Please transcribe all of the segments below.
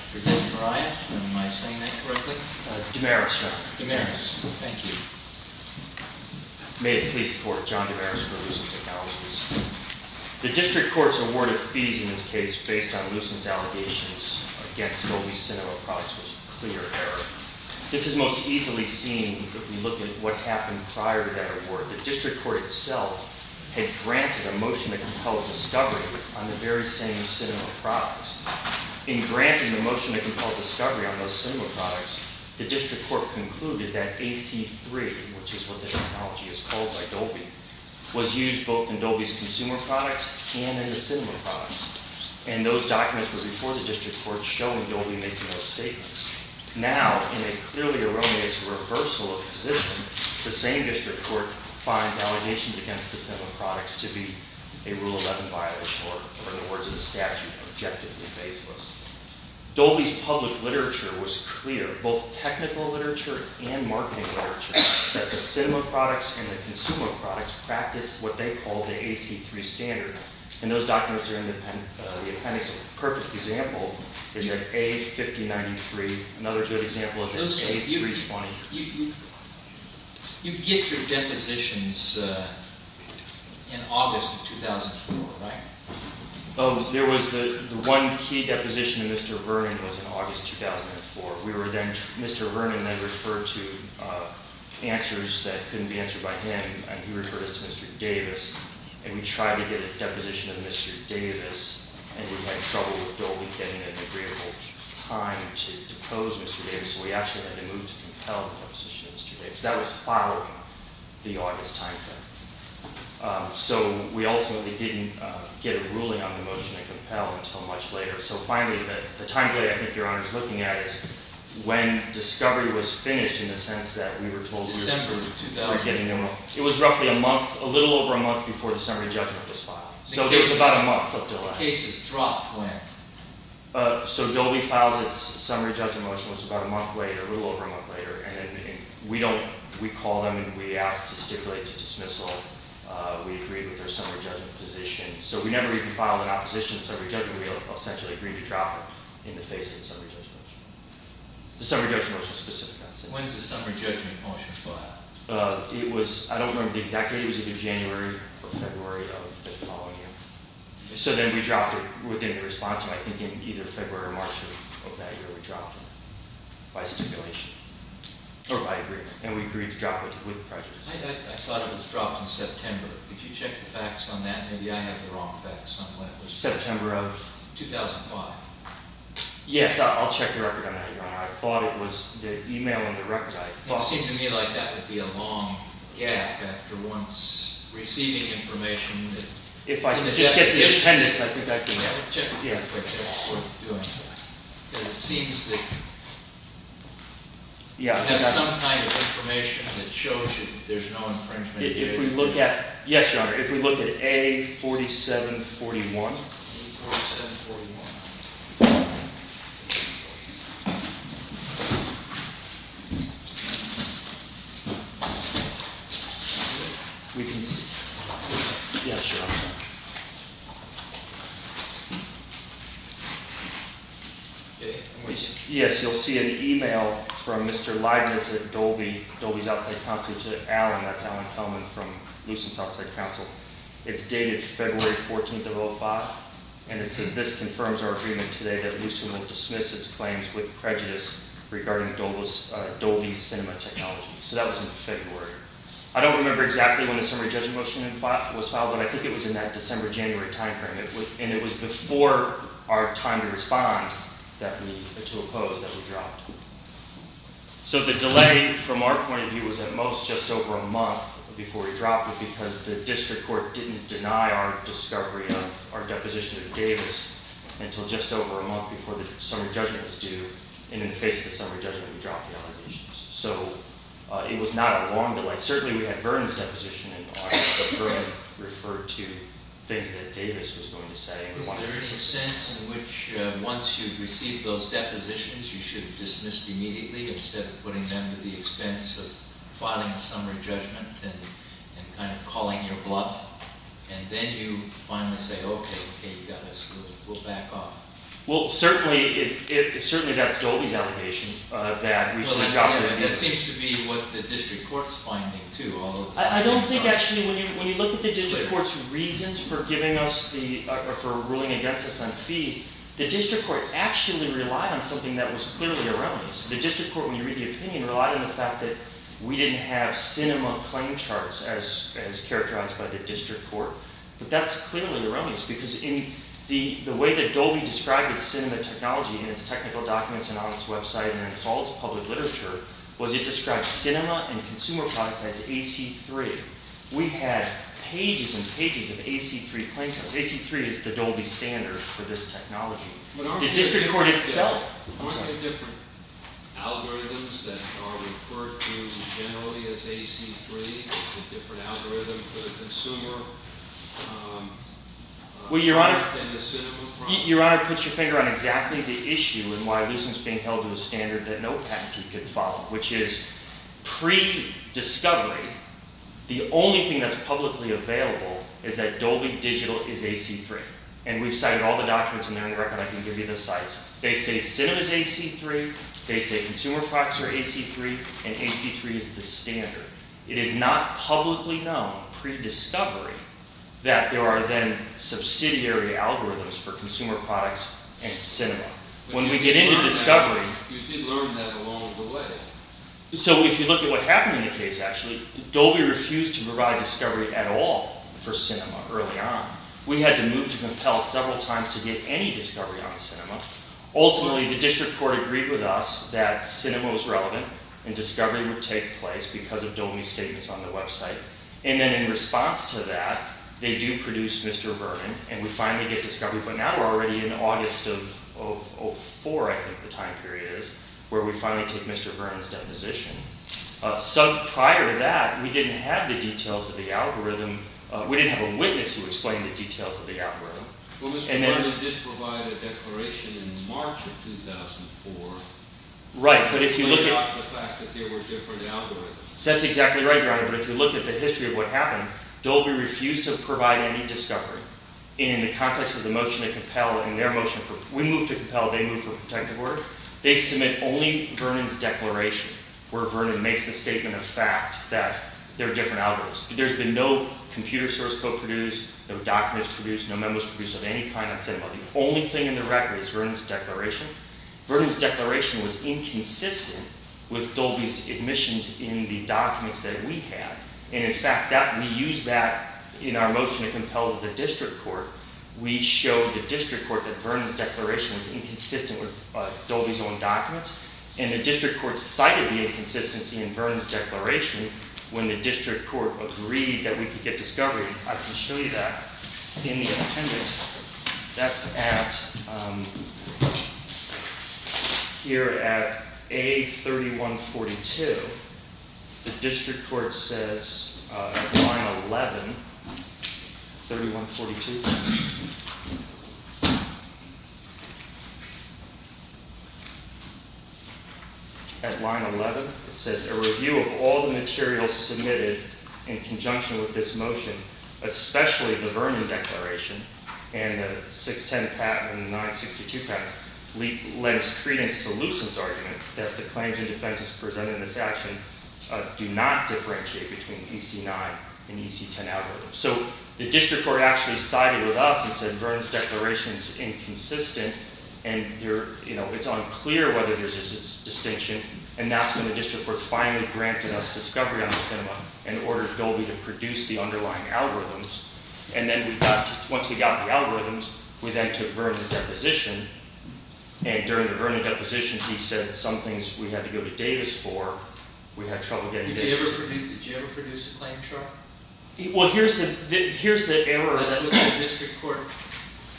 John Demarais, President of Lucent Technologies President Marias, am I saying that correctly? Demarais, yes. Demarais, thank you. May it please the Court, John Demarais for Lucent Technologies. The District Court's award of fees in this case based on Lucent's allegations against Dolby Cinema products was a clear error. This is most easily seen if we look at what happened prior to that award. The District Court itself had granted a motion to compel discovery on the very same cinema products. In granting the motion to compel discovery on those cinema products, the District Court concluded that AC-3, which is what the technology is called by Dolby, was used both in Dolby's consumer products and in the cinema products. And those documents were before the District Court showing Dolby making those statements. Now, in a clearly erroneous reversal of position, the same District Court finds allegations against the cinema products to be a Rule 11 violation or, in the words of the statute, objectively baseless. Dolby's public literature was clear, both technical literature and marketing literature, that the cinema products and the consumer products practiced what they called the AC-3 standard. And those documents are in the appendix. A perfect example is you have A-5093. Another good example is A-320. You get your depositions in August of 2004, right? Oh, there was the one key deposition to Mr. Vernon was in August 2004. We were then—Mr. Vernon, I referred to answers that couldn't be answered by him, and he referred us to Mr. Davis. And we tried to get a deposition of Mr. Davis, and we had trouble with Dolby getting an agreeable time to depose Mr. Davis. So we actually had to move to compel the deposition of Mr. Davis. That was following the August timeframe. So we ultimately didn't get a ruling on the motion and compel until much later. So finally, the timeframe I think Your Honor is looking at is when Discovery was finished in the sense that we were told— December of 2000. It was roughly a month, a little over a month before the summary judgment was filed. So it was about a month up until that. The cases dropped when? So Dolby files its summary judgment motion was about a month later, a little over a month later. And we don't—we call them and we ask to stipulate to dismissal. We agreed with their summary judgment position. So we never even filed an opposition to the summary judgment. We essentially agreed to drop it in the face of the summary judgment motion. The summary judgment motion is specific. When is the summary judgment motion filed? It was—I don't remember exactly. It was either January or February of the following year. So then we dropped it within the response time. I think in either February or March of that year we dropped it by stipulation or by agreement. And we agreed to drop it with prejudice. I thought it was dropped in September. Could you check the facts on that? Maybe I have the wrong facts on when it was. September of? 2005. Yes, I'll check the record on that, Your Honor. I thought it was the email and the record. I thought— It seemed to me like that would be a long gap after once receiving information that— If I could just get the attendance, I think I can get it. Yeah, check the records. It's worth doing that. Because it seems that— Yeah, I think I— That's some kind of information that shows you there's no infringement. If we look at—yes, Your Honor. If we look at A4741. A4741. Okay. We can see— Yeah, sure. Okay. Yes, you'll see an email from Mr. Leibniz at Dolby, Dolby's Outside Council, to Alan. That's Alan Kelman from Lucent's Outside Council. It's dated February 14, 2005. And it says, This confirms our agreement today that Lucent will dismiss its claims with prejudice regarding Dolby's cinema technology. So that was in February. I don't remember exactly when the summary judgment motion was filed, but I think it was in that December, January timeframe. And it was before our time to respond that we—to oppose that we dropped. So the delay, from our point of view, was at most just over a month before we dropped it because the district court didn't deny our discovery of our deposition to Davis until just over a month before the summary judgment was due. And in the face of the summary judgment, we dropped the allegations. So it was not a long delay. Certainly, we had Vernon's deposition in mind, but Vernon referred to things that Davis was going to say. Was there any sense in which, once you've received those depositions, you should have dismissed immediately instead of putting them to the expense of filing a summary judgment and kind of calling your bluff? And then you finally say, OK, you got us. We'll back off. Well, certainly, that's Dolby's allegation that we should have dropped it. That seems to be what the district court's finding, too, although— I don't think, actually, when you look at the district court's reasons for giving us the—or for ruling against us on fees, the district court actually relied on something that was clearly around us. The district court, when you read the opinion, relied on the fact that we didn't have CINEMA claim charts as characterized by the district court. But that's clearly around us because in the way that Dolby described its CINEMA technology in its technical documents and on its website and in all its public literature was it described CINEMA and consumer products as AC-3. We had pages and pages of AC-3 claim charts. AC-3 is the Dolby standard for this technology. The district court itself. Aren't there different algorithms that are referred to generally as AC-3? There's a different algorithm for the consumer and the CINEMA product? Your Honor, put your finger on exactly the issue in why a leason is being held to a standard that no patentee could follow, which is pre-discovery, the only thing that's publicly available is that Dolby Digital is AC-3. And we've cited all the documents in there and I can give you the sites. They say CINEMA is AC-3. They say consumer products are AC-3. And AC-3 is the standard. It is not publicly known, pre-discovery, that there are then subsidiary algorithms for consumer products and CINEMA. When we get into discovery... You did learn that along the way. So if you look at what happened in the case, actually, Dolby refused to provide discovery at all for CINEMA early on. We had to move to compel several times to get any discovery on CINEMA. Ultimately, the district court agreed with us that CINEMA was relevant and discovery would take place because of Dolby statements on the website. And then in response to that, they do produce Mr. Vernon, and we finally get discovery. But now we're already in August of 2004, I think the time period is, where we finally take Mr. Vernon's deposition. Prior to that, we didn't have the details of the algorithm. We didn't have a witness who explained the details of the algorithm. Well, Mr. Vernon did provide a declaration in March of 2004. Right, but if you look at... But not the fact that there were different algorithms. That's exactly right, Your Honor. But if you look at the history of what happened, Dolby refused to provide any discovery in the context of the motion to compel and their motion for... We moved to compel, they moved for protective order. They submit only Vernon's declaration, where Vernon makes the statement of fact that there are different algorithms. There's been no computer source code produced, no documents produced, no memos produced of any kind that said, well, the only thing in the record is Vernon's declaration. Vernon's declaration was inconsistent with Dolby's admissions in the documents that we have. And in fact, we used that in our motion to compel the district court. We showed the district court that Vernon's declaration was inconsistent with Dolby's own documents. And the district court cited the inconsistency in Vernon's declaration when the district court agreed that we could get discovery. I can show you that in the appendix. That's at... Here at A3142, the district court says at line 11... 3142. At line 11, it says, a review of all the materials submitted in conjunction with this motion, especially the Vernon declaration, and the 610 patent and the 962 patent, lends credence to Lewson's argument that the claims and defenses presented in this action do not differentiate between EC9 and EC10 algorithms. So the district court actually sided with us and said Vernon's declaration is inconsistent and it's unclear whether there's a distinction. And that's when the district court finally granted us discovery on the cinema in order for Dolby to produce the underlying algorithms. And then once we got the algorithms, we then took Vernon's deposition. And during the Vernon deposition, he said some things we had to go to Davis for. Did you ever produce a claim chart? Well, here's the error... That's what the district court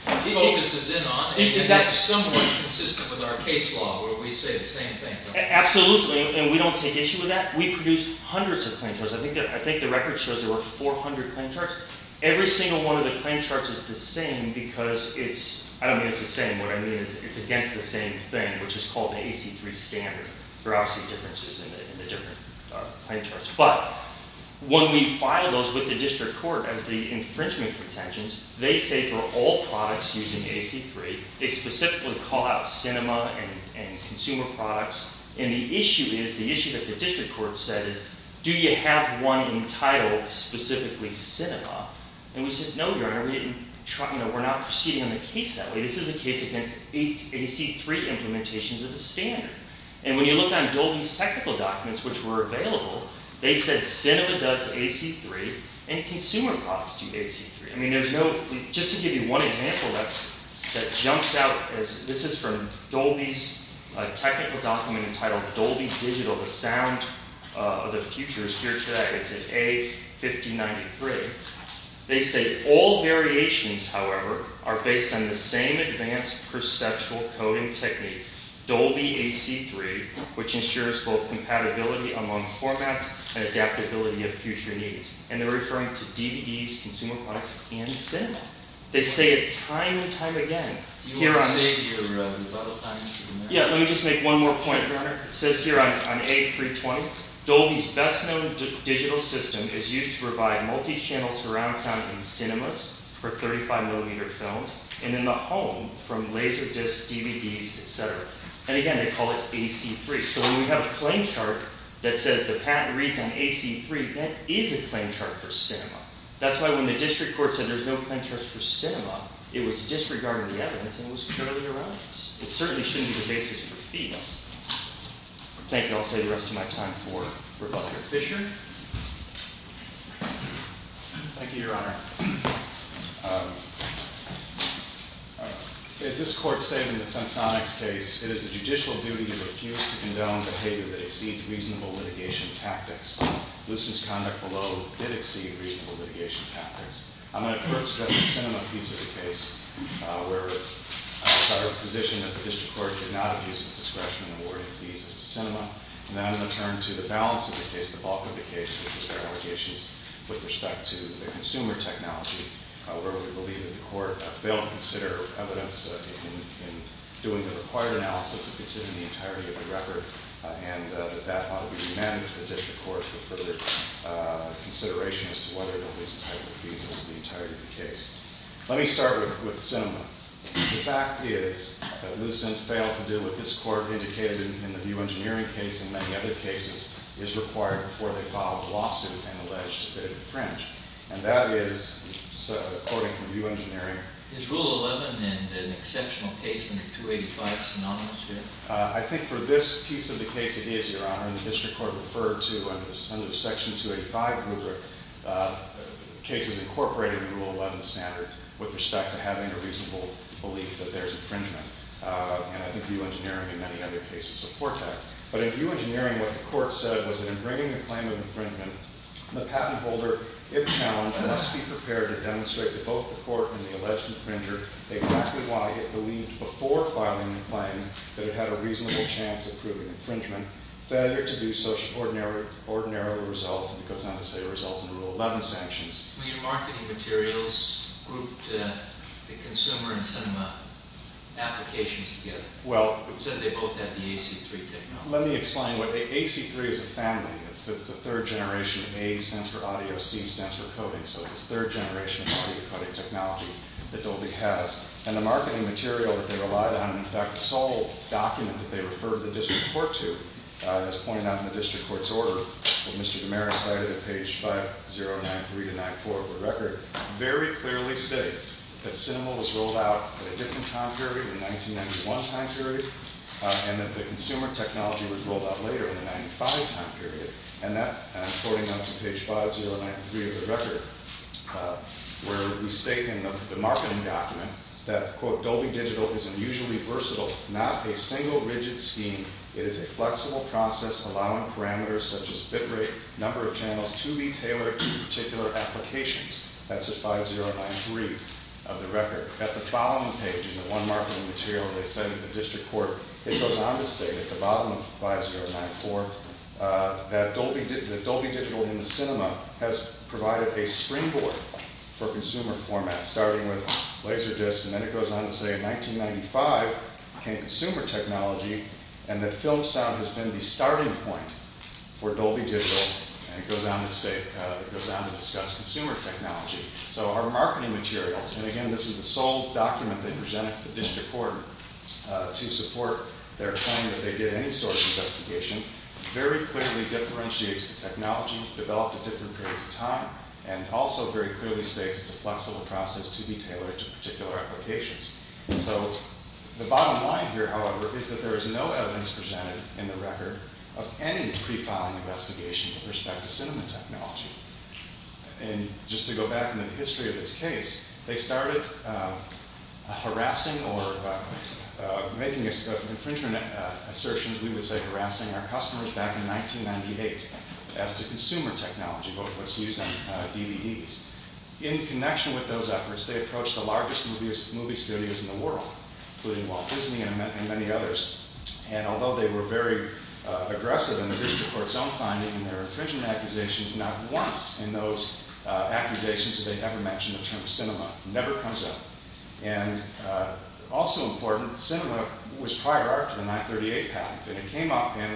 focuses in on. Is that somewhat consistent with our case law, where we say the same thing? Absolutely, and we don't take issue with that. We produced hundreds of claim charts. I think the record shows there were 400 claim charts. Every single one of the claim charts is the same because it's... I don't mean it's the same. What I mean is it's against the same thing, which is called the EC3 standard. There are obviously differences in the different claim charts. But when we file those with the district court as the infringement pretensions, they say for all products using EC3, they specifically call out cinema and consumer products. And the issue is, the issue that the district court said is, do you have one entitled specifically cinema? And we said, no, Your Honor, we're not proceeding on the case that way. This is a case against EC3 implementations of the standard. And when you look on Dolby's technical documents, which were available, they said cinema does EC3, and consumer products do EC3. I mean, there's no... Just to give you one example that jumps out, this is from Dolby's technical document entitled Dolby Digital, The Sound of the Future. It's here today. It's at A5093. They say, all variations, however, are based on the same advanced perceptual coding technique, Dolby EC3, which ensures both compatibility among formats and adaptability of future needs. And they're referring to DVDs, consumer products, and cinema. They say it time and time again. Here on... Yeah, let me just make one more point. It says here on A320, Dolby's best-known digital system is used to provide multi-channel surround sound in cinemas for 35-millimeter films, and in the home, from LaserDisc, DVDs, et cetera. And again, they call it EC3. So when we have a claim chart that says the patent reads on EC3, that is a claim chart for cinema. That's why when the district court said there's no claim charts for cinema, it was disregarding the evidence, and it was purely irrelevant. It certainly shouldn't be the basis for fees. Thank you. I'll save the rest of my time for Professor Fisher. Thank you, Your Honor. As this court stated in the Sensonics case, it is the judicial duty to refuse to condone behavior that exceeds reasonable litigation tactics. Lucent's conduct below did exceed reasonable litigation tactics. I'm going to turn to the cinema piece of the case, where it's our position that the district court did not abuse its discretion in awarding fees to cinema. And then I'm going to turn to the balance of the case, the bulk of the case, which is their allegations with respect to the consumer technology, where we believe that the court failed to consider evidence in doing the required analysis and considering the entirety of the record, and that that ought to be remanded to the district court for further consideration as to whether or not there's a type of fees as to the entirety of the case. Let me start with cinema. The fact is that Lucent failed to do what this court indicated in the view engineering case and many other cases is required before they file a lawsuit and allege that it infringed. And that is, according to view engineering... Is Rule 11 an exceptional case in the 285 synonymous here? I think for this piece of the case it is, Your Honor, and the district court referred to under Section 285 rubric cases incorporated in Rule 11 standard with respect to having a reasonable belief that there's infringement. And I think view engineering and many other cases support that. But in view engineering, what the court said was that in bringing the claim of infringement, the patent holder, if challenged, must be prepared to demonstrate to both the court and the alleged infringer exactly why it believed before filing the claim that it had a reasonable chance of proving infringement, failure to do such ordinary results, because not to say a result in Rule 11 sanctions. When your marketing materials grouped the consumer and cinema applications together, it said they both had the AC-3 technology. Let me explain what AC-3 as a family is. It's the third generation of A stands for audio, C stands for coding. So it's the third generation of audio coding technology that Dolby has. And the marketing material that they relied on, in fact, the sole document that they referred the district court to, as pointed out in the district court's order, what Mr. DiMera cited at page 5093-94 of the record, very clearly states that cinema was rolled out at a different time period, the 1991 time period, and that the consumer technology was rolled out later, in the 1995 time period. And that, according to page 5093 of the record, where we state in the marketing document that, quote, Dolby Digital is unusually versatile, not a single rigid scheme. It is a flexible process, allowing parameters such as bit rate, number of channels to be tailored to particular applications. That's at 5093 of the record. At the following page in the one marketing material they cited in the district court, it goes on to state at the bottom of 5094 that Dolby Digital in the cinema has provided a springboard for consumer formats, starting with laser discs, and then it goes on to say in 1995 came consumer technology, and that film sound has been the starting point for Dolby Digital. And it goes on to discuss consumer technology. So our marketing materials, and again, this is the sole document they presented to the district court to support their claim that they did any sort of investigation, very clearly differentiates the technology developed at different periods of time, and also very clearly states it's a flexible process to be tailored to particular applications. So the bottom line here, however, is that there is no evidence presented in the record of any pre-filing investigation with respect to cinema technology. And just to go back into the history of this case, they started harassing or making infringement assertions, we would say harassing our customers back in 1998 as to consumer technology, what was used on DVDs. In connection with those efforts, they approached the largest movie studios in the world, including Walt Disney and many others, and although they were very aggressive in the district court's own finding in their infringement accusations, not once in those accusations did they ever mention the term cinema, never comes up. And also important, cinema was prior art to the 938 patent, and it came up in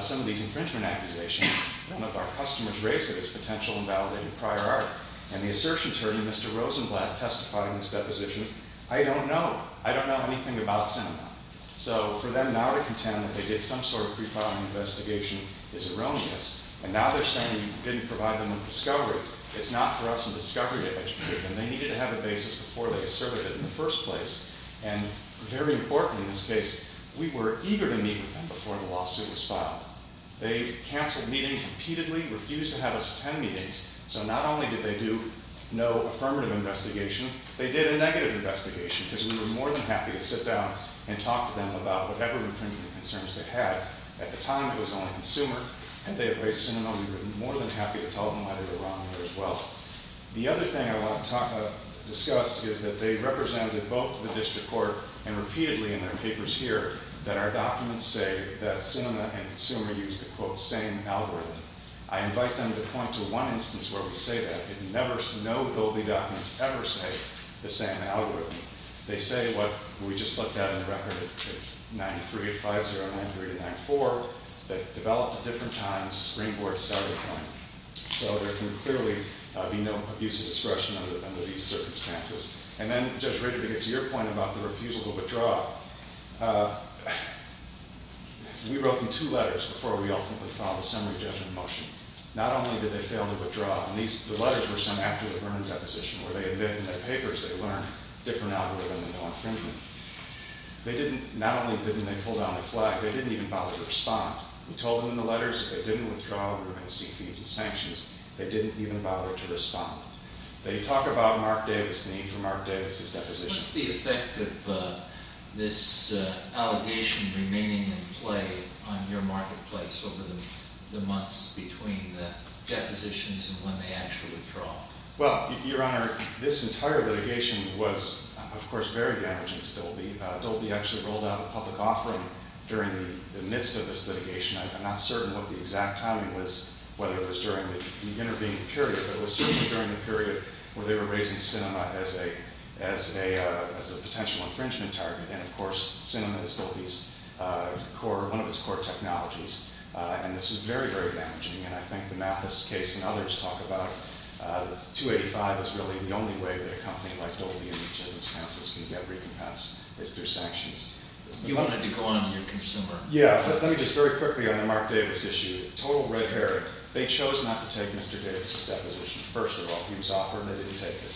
some of these infringement accusations. None of our customers raised it as potential and validated prior art. And the assertion attorney, Mr. Rosenblatt, testifying to this deposition, I don't know, I don't know anything about cinema. So for them now to contend that they did some sort of pre-filing investigation is erroneous, and now they're saying you didn't provide them with discovery. It's not for us in discovery to educate them. They needed to have a basis before they asserted it in the first place. And very important in this case, we were eager to meet with them before the lawsuit was filed. They canceled meetings repeatedly, refused to have us attend meetings, so not only did they do no affirmative investigation, they did a negative investigation, because we were more than happy to sit down and talk to them about whatever infringement concerns they had. At the time, it was only consumer, and they had raised cinema, and we were more than happy to tell them why they were wrong there as well. The other thing I want to discuss is that they represented both the district court and repeatedly in their papers here that our documents say that cinema and consumer use the, quote, same algorithm. I invite them to point to one instance where we say that. No building documents ever say the same algorithm. They say what we just looked at in the record of 93 and 50 and 93 and 94 that developed at different times, screen board, starting point. So there can clearly be no abuse of discretion under these circumstances. And then, Judge Rager, to get to your point about the refusal to withdraw, we wrote them two letters before we ultimately filed a summary judgment motion. Not only did they fail to withdraw, and the letters were sent after the Vernon deposition where they admit in their papers they learned a different algorithm and no infringement. They didn't, not only didn't they pull down the flag, they didn't even bother to respond. We told them in the letters that if they didn't withdraw, we were going to see fees and sanctions. They didn't even bother to respond. They talk about Mark Davis, the name for Mark Davis' deposition. What's the effect of this allegation remaining in play on your marketplace over the months between the depositions and when they actually withdraw? Well, Your Honor, this entire litigation was, of course, very damaging to Dolby. Dolby actually rolled out a public offering during the midst of this litigation. I'm not certain what the exact timing was, whether it was during the intervening period, but it was certainly during the period where they were raising Cinema as a potential infringement target. And, of course, Cinema is Dolby's core, one of its core technologies. And this was very, very damaging. And I think the Mathis case and others talk about 285 is really the only way that a company like Dolby in these circumstances can get recompensed is through sanctions. You wanted to go on to your consumer. Yeah, but let me just very quickly on the Mark Davis issue. Total red herring. They chose not to take Mr. Davis' deposition, first of all. He was offered, and they didn't take it.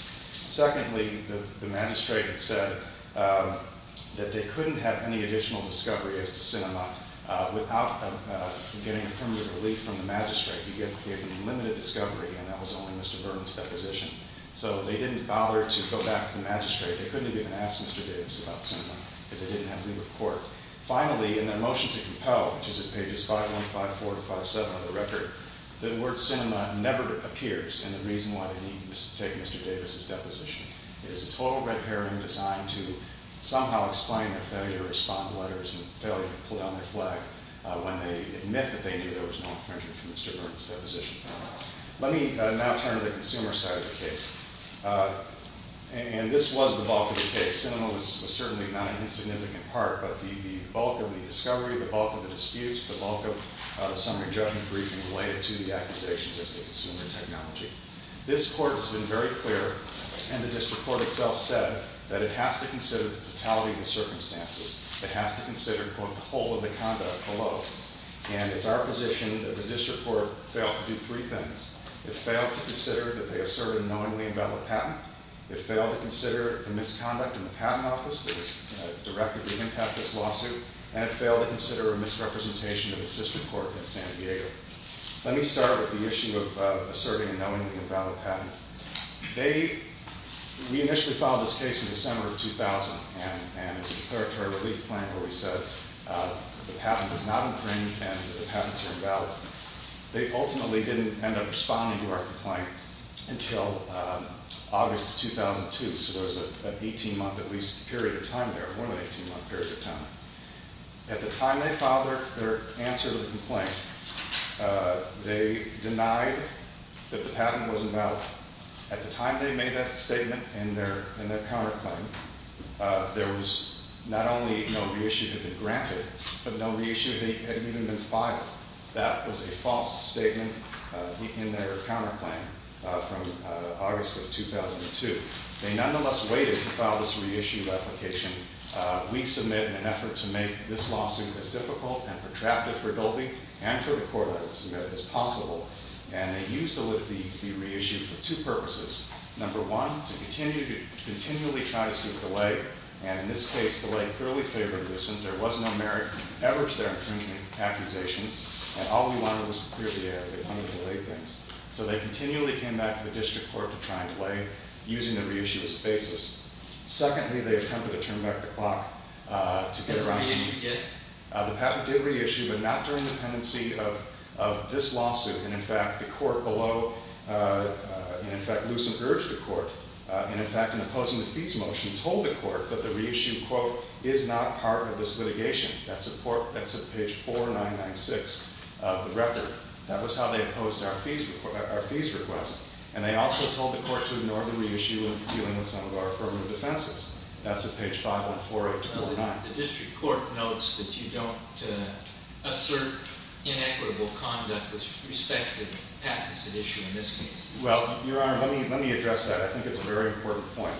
Secondly, the magistrate had said that they couldn't have any additional discovery as to Cinema without getting affirmative relief from the magistrate. He had given limited discovery, and that was only Mr. Burns' deposition. So they didn't bother to go back to the magistrate. They couldn't have even asked Mr. Davis about Cinema because they didn't have leave of court. Finally, in their motion to compel, which is at pages 5154-57 on the record, the word Cinema never appears, and the reason why they didn't take Mr. Davis' deposition. It is a total red herring designed to somehow explain their failure to respond to letters and failure to pull down their flag when they admit that they knew there was no infringement from Mr. Burns' deposition. Let me now turn to the consumer side of the case. And this was the bulk of the case. Cinema was certainly not an insignificant part, but the bulk of the discovery, the bulk of the disputes, the bulk of the summary judgment briefing related to the accusations as to consumer technology. This court has been very clear, and the district court itself said, that it has to consider the totality of the circumstances. It has to consider, quote, the whole of the conduct below. And it's our position that the district court failed to do three things. It failed to consider that they asserted a knowingly invalid patent. It failed to consider the misconduct in the patent office that has directly impacted this lawsuit. And it failed to consider a misrepresentation of the district court in San Diego. Let me start with the issue of asserting a knowingly invalid patent. They, we initially filed this case in December of 2000, and it's a territory relief claim where we said the patent is not infringed and the patents are invalid. They ultimately didn't end up responding to our complaint until August of 2002. So there was an 18-month, at least, period of time there, more than 18-month period of time. At the time they filed their answer to the complaint, they denied that the patent was invalid. At the time they made that statement in their counterclaim, there was not only no reissue had been granted, but no reissue had even been filed. That was a false statement in their counterclaim from August of 2002. They nonetheless waited to file this reissue replication. We submit an effort to make this lawsuit as difficult and protracted for Dolby and for the court, I would submit, as possible. And they used the liberty to be reissued for two purposes. Number one, to continue to continually try to seek delay. And in this case, delay clearly favored this. There was no merit ever to their infringement accusations, and all we wanted was to clear the air. They wanted to delay things. So they continually came back to the district court to try and delay, using the reissue as a basis. Secondly, they attempted to turn back the clock to get around to- The patent did reissue, but not during the pendency of this lawsuit. And in fact, the court below, and in fact, Lucent urged the court. And in fact, in opposing the fees motion, told the court that the reissue, quote, is not part of this litigation. That's at page 4996 of the record. That was how they opposed our fees request. And they also told the court to ignore the reissue in dealing with some of our affirmative defenses. That's at page 514829. The district court notes that you don't assert inequitable conduct with respect to the patents that issue in this case. Well, Your Honor, let me address that. I think it's a very important point.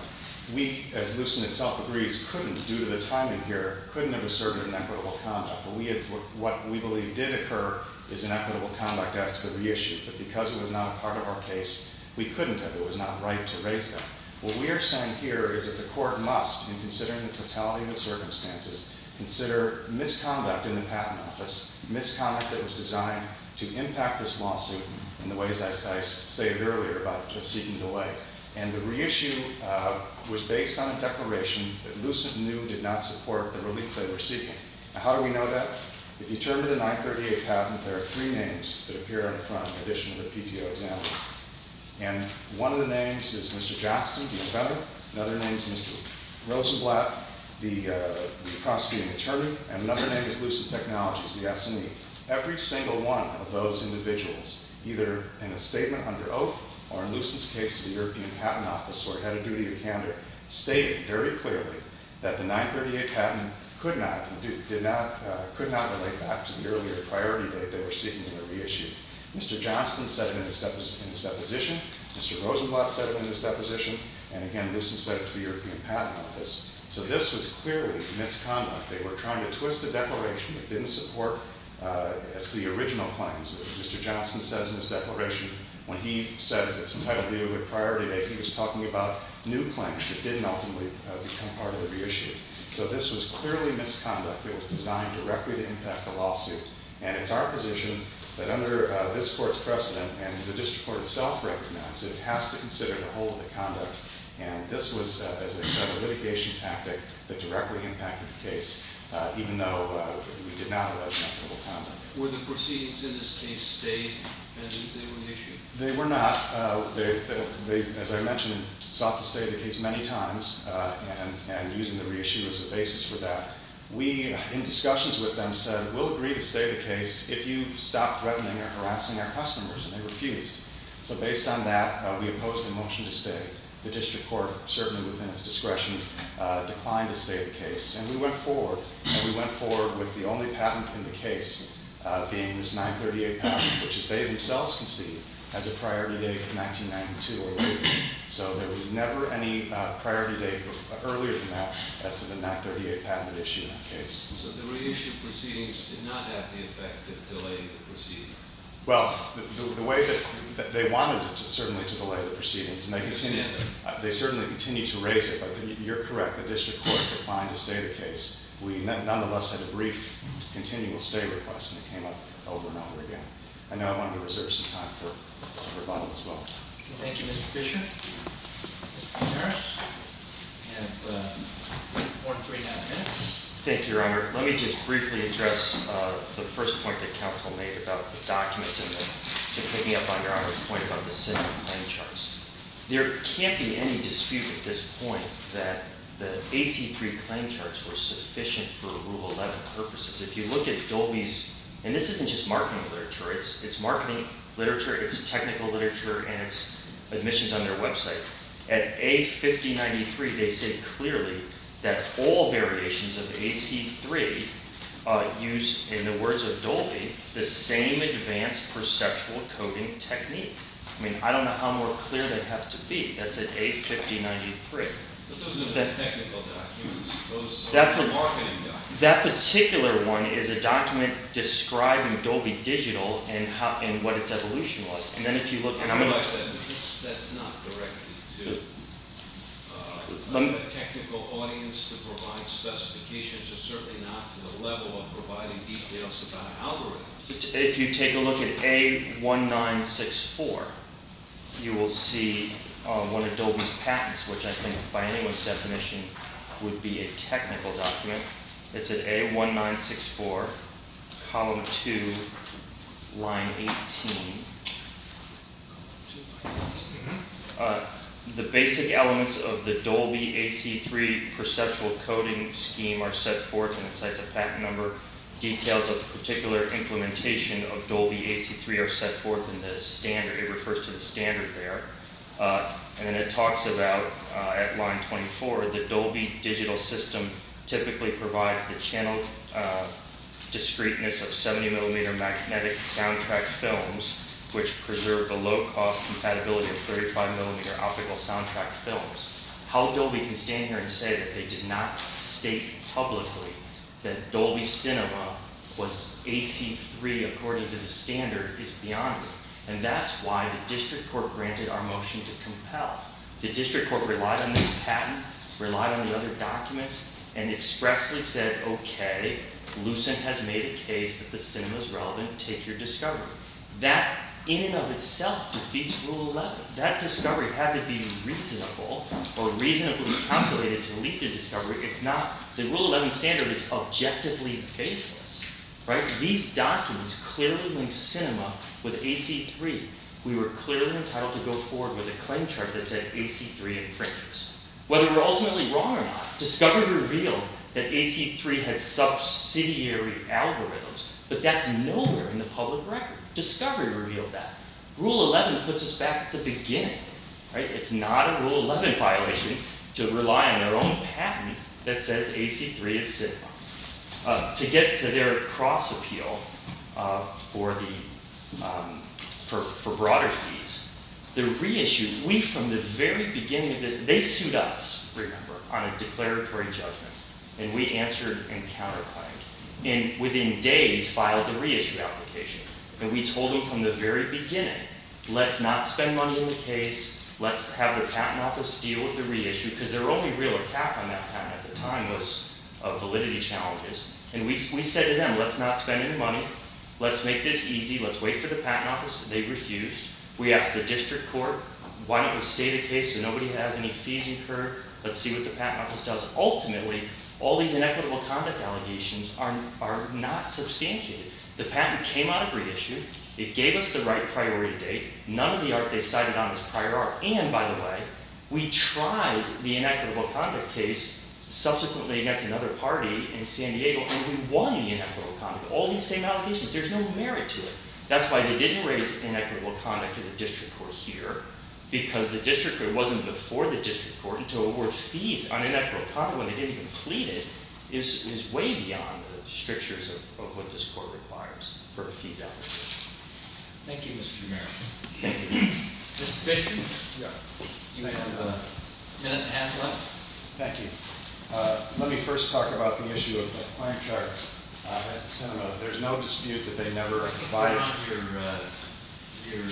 We, as Lucent itself agrees, couldn't, due to the timing here, couldn't have asserted an equitable conduct. What we believe did occur is an equitable conduct as to the reissue. But because it was not a part of our case, we couldn't have. It was not right to raise that. What we are saying here is that the court must, in considering the totality of the circumstances, consider misconduct in the patent office, misconduct that was designed to impact this lawsuit in the ways I stated earlier about it seeking delay. And the reissue was based on a declaration that Lucent knew did not support the relief they were seeking. How do we know that? If you turn to the 938 patent, there are three names that appear on the front in addition to the PTO example. And one of the names is Mr. Johnston, the offender. Another name is Mr. Rosenblatt, the prosecuting attorney. And another name is Lucent Technologies, the S&E. Every single one of those individuals, either in a statement under oath or in Lucent's case to the European Patent Office or Head of Duty in Canada, stated very clearly that the 938 patent could not relate back to the earlier priority date they were seeking to reissue. Mr. Johnston said it in his deposition. Mr. Rosenblatt said it in his deposition. And, again, Lucent said it to the European Patent Office. So this was clearly misconduct. They were trying to twist the declaration that didn't support the original claims. Mr. Johnston says in his declaration when he said that some type of delay with priority date, he was talking about new claims that didn't ultimately become part of the reissue. So this was clearly misconduct that was designed directly to impact the lawsuit. And it's our position that under this court's precedent, and the district court itself recommends it, it has to consider the whole of the conduct. And this was, as I said, a litigation tactic that directly impacted the case, even though we did not allege negligible conduct. Were the proceedings in this case stayed and they were reissued? They were not. They, as I mentioned, sought to stay in the case many times and using the reissue as a basis for that. We, in discussions with them, said we'll agree to stay the case if you stop threatening or harassing our customers. And they refused. So based on that, we opposed the motion to stay. The district court, certainly within its discretion, declined to stay the case. And we went forward. And we went forward with the only patent in the case being this 938 patent, which they themselves conceived as a priority date of 1992 or later. So there was never any priority date earlier than that as to the 938 patent issue in that case. So the reissued proceedings did not have the effect of delaying the proceedings? Well, the way that they wanted it to certainly delay the proceedings. And they certainly continue to raise it. But you're correct. The district court declined to stay the case. We nonetheless had a brief continual stay request. And it came up over and over again. I know I wanted to reserve some time for rebuttal as well. Thank you, Mr. Fisher. Mr. Harris. You have more than three and a half minutes. Thank you, Your Honor. Let me just briefly address the first point that counsel made about the documents and to picking up on Your Honor's point about the central claim charts. There can't be any dispute at this point that the AC-3 claim charts were sufficient for Rule 11 purposes. If you look at Dolby's, and this isn't just marketing literature. It's marketing literature, it's technical literature, and it's admissions on their website. At A-5093, they say clearly that all variations of AC-3 use, in the words of Dolby, the same advanced perceptual coding technique. I mean, I don't know how more clear they have to be. That's at A-5093. But those are technical documents. Those are marketing documents. That particular one is a document describing Dolby Digital and what its evolution was. And then if you look, and I'm going to— I realize that's not directly to a technical audience to provide specifications. It's certainly not to the level of providing details about an algorithm. If you take a look at A-1964, you will see one of Dolby's patents, which I think by anyone's definition would be a technical document. It's at A-1964, column 2, line 18. The basic elements of the Dolby AC-3 perceptual coding scheme are set forth, and it cites a patent number. Details of the particular implementation of Dolby AC-3 are set forth in the standard. It refers to the standard there. And then it talks about, at line 24, the Dolby digital system typically provides the channel discreteness of 70-millimeter magnetic soundtrack films, which preserve the low-cost compatibility of 35-millimeter optical soundtrack films. How Dolby can stand here and say that they did not state publicly that Dolby Cinema was AC-3, according to the standard, is beyond me. And that's why the district court granted our motion to compel. The district court relied on this patent, relied on the other documents, and expressly said, OK, Lucent has made a case that the cinema is relevant. Take your discovery. That, in and of itself, defeats Rule 11. That discovery had to be reasonable or reasonably calculated to lead to discovery. It's not. The Rule 11 standard is objectively baseless. These documents clearly link cinema with AC-3. We were clearly entitled to go forward with a claim chart that said AC-3 infringers. Whether we're ultimately wrong or not, discovery revealed that AC-3 had subsidiary algorithms, but that's nowhere in the public record. Discovery revealed that. Rule 11 puts us back at the beginning. It's not a Rule 11 violation to rely on their own patent that says AC-3 is cinema. To get to their cross-appeal for broader fees, the reissue, we, from the very beginning of this, they sued us, remember, on a declaratory judgment. And we answered and counterclaimed. And within days, filed a reissue application. And we told them from the very beginning, let's not spend money on the case, let's have the patent office deal with the reissue, because their only real attack on that patent at the time was validity challenges. And we said to them, let's not spend any money. Let's make this easy. Let's wait for the patent office. They refused. We asked the district court, why don't we stay the case so nobody has any fees incurred. Let's see what the patent office does. Ultimately, all these inequitable conduct allegations are not substantiated. The patent came out of reissue. It gave us the right priority date. None of the art they cited on is prior art. And, by the way, we tried the inequitable conduct case, subsequently against another party in San Diego, and we won the inequitable conduct. All these same allegations. There's no merit to it. That's why they didn't raise inequitable conduct to the district court here, because the district court wasn't before the district court until it was fees on inequitable conduct when they didn't even plead it is way beyond the strictures of what this court requires for a fees application. Thank you, Mr. Kumaris. Thank you. Mr. Fisher? Yeah. You may have a minute and a half left. Thank you. Let me first talk about the issue of the client charts. As the senator, there's no dispute that they never are divided. You're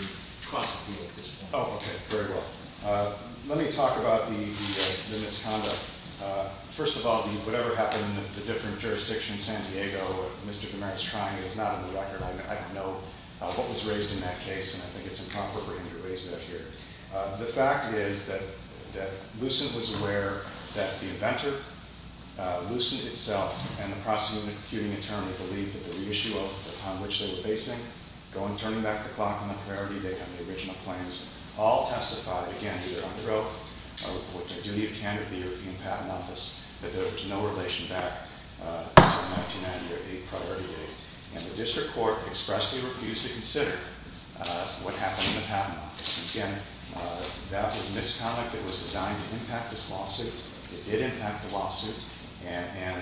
cross with me at this point. Oh, okay. Very well. Let me talk about the misconduct. First of all, whatever happened in the different jurisdictions, San Diego, Mr. Kumaris trying it is not on the record. I don't know what was raised in that case, and I think it's inappropriate for me to raise that here. The fact is that Lucent was aware that the inventor, Lucent itself, and the prosecuting attorney believed that the issue upon which they were basing, turning back the clock on the priority date on the original claims, all testified, again, either under oath or with the duty of candidate of the European Patent Office, that there was no relation back to the 1990 or the 8th priority date. And the district court expressly refused to consider what happened in the patent office. Again, that was misconduct. It was designed to impact this lawsuit. It did impact the lawsuit. And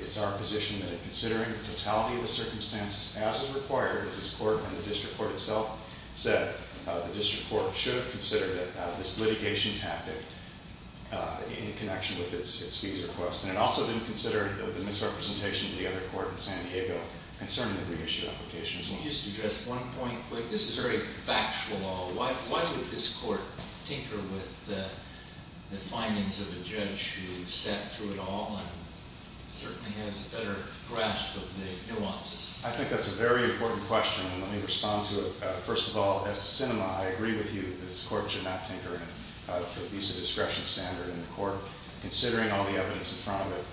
it's our position that in considering the totality of the circumstances, as is required, as this court and the district court itself said, the district court should have considered this litigation tactic in connection with its fees request. And it also didn't consider the misrepresentation of the other court in San Diego concerning the reissue application as well. Let me just address one point quick. This is very factual law. Why would this court tinker with the findings of a judge who sat through it all and certainly has a better grasp of the nuances? I think that's a very important question, and let me respond to it. First of all, as to Sinema, I agree with you that this court should not tinker with the visa discretion standard in the court, considering all the evidence in front of it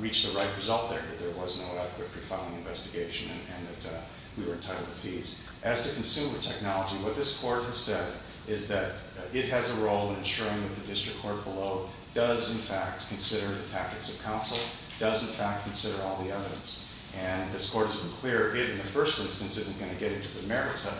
reached the right result there, that there was no adequate pre-filing investigation and that we were entitled to fees. As to consumer technology, what this court has said is that it has a role in ensuring that the district court below does, in fact, consider the tactics of counsel, does, in fact, consider all the evidence. And this court has been clear it, in the first instance, isn't going to get into the merits of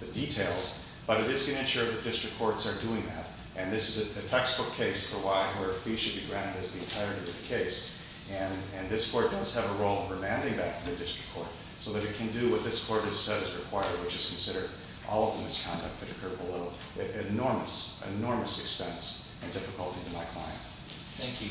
the details, but it is going to ensure that district courts are doing that. And this is a textbook case for why a fee should be granted as the entirety of the case. And this court does have a role in remanding that to the district court so that it can do what this court has said is required, which is consider all of the misconduct that occurred below at enormous, enormous expense and difficulty to my client. Thank you. Thank you. All rise.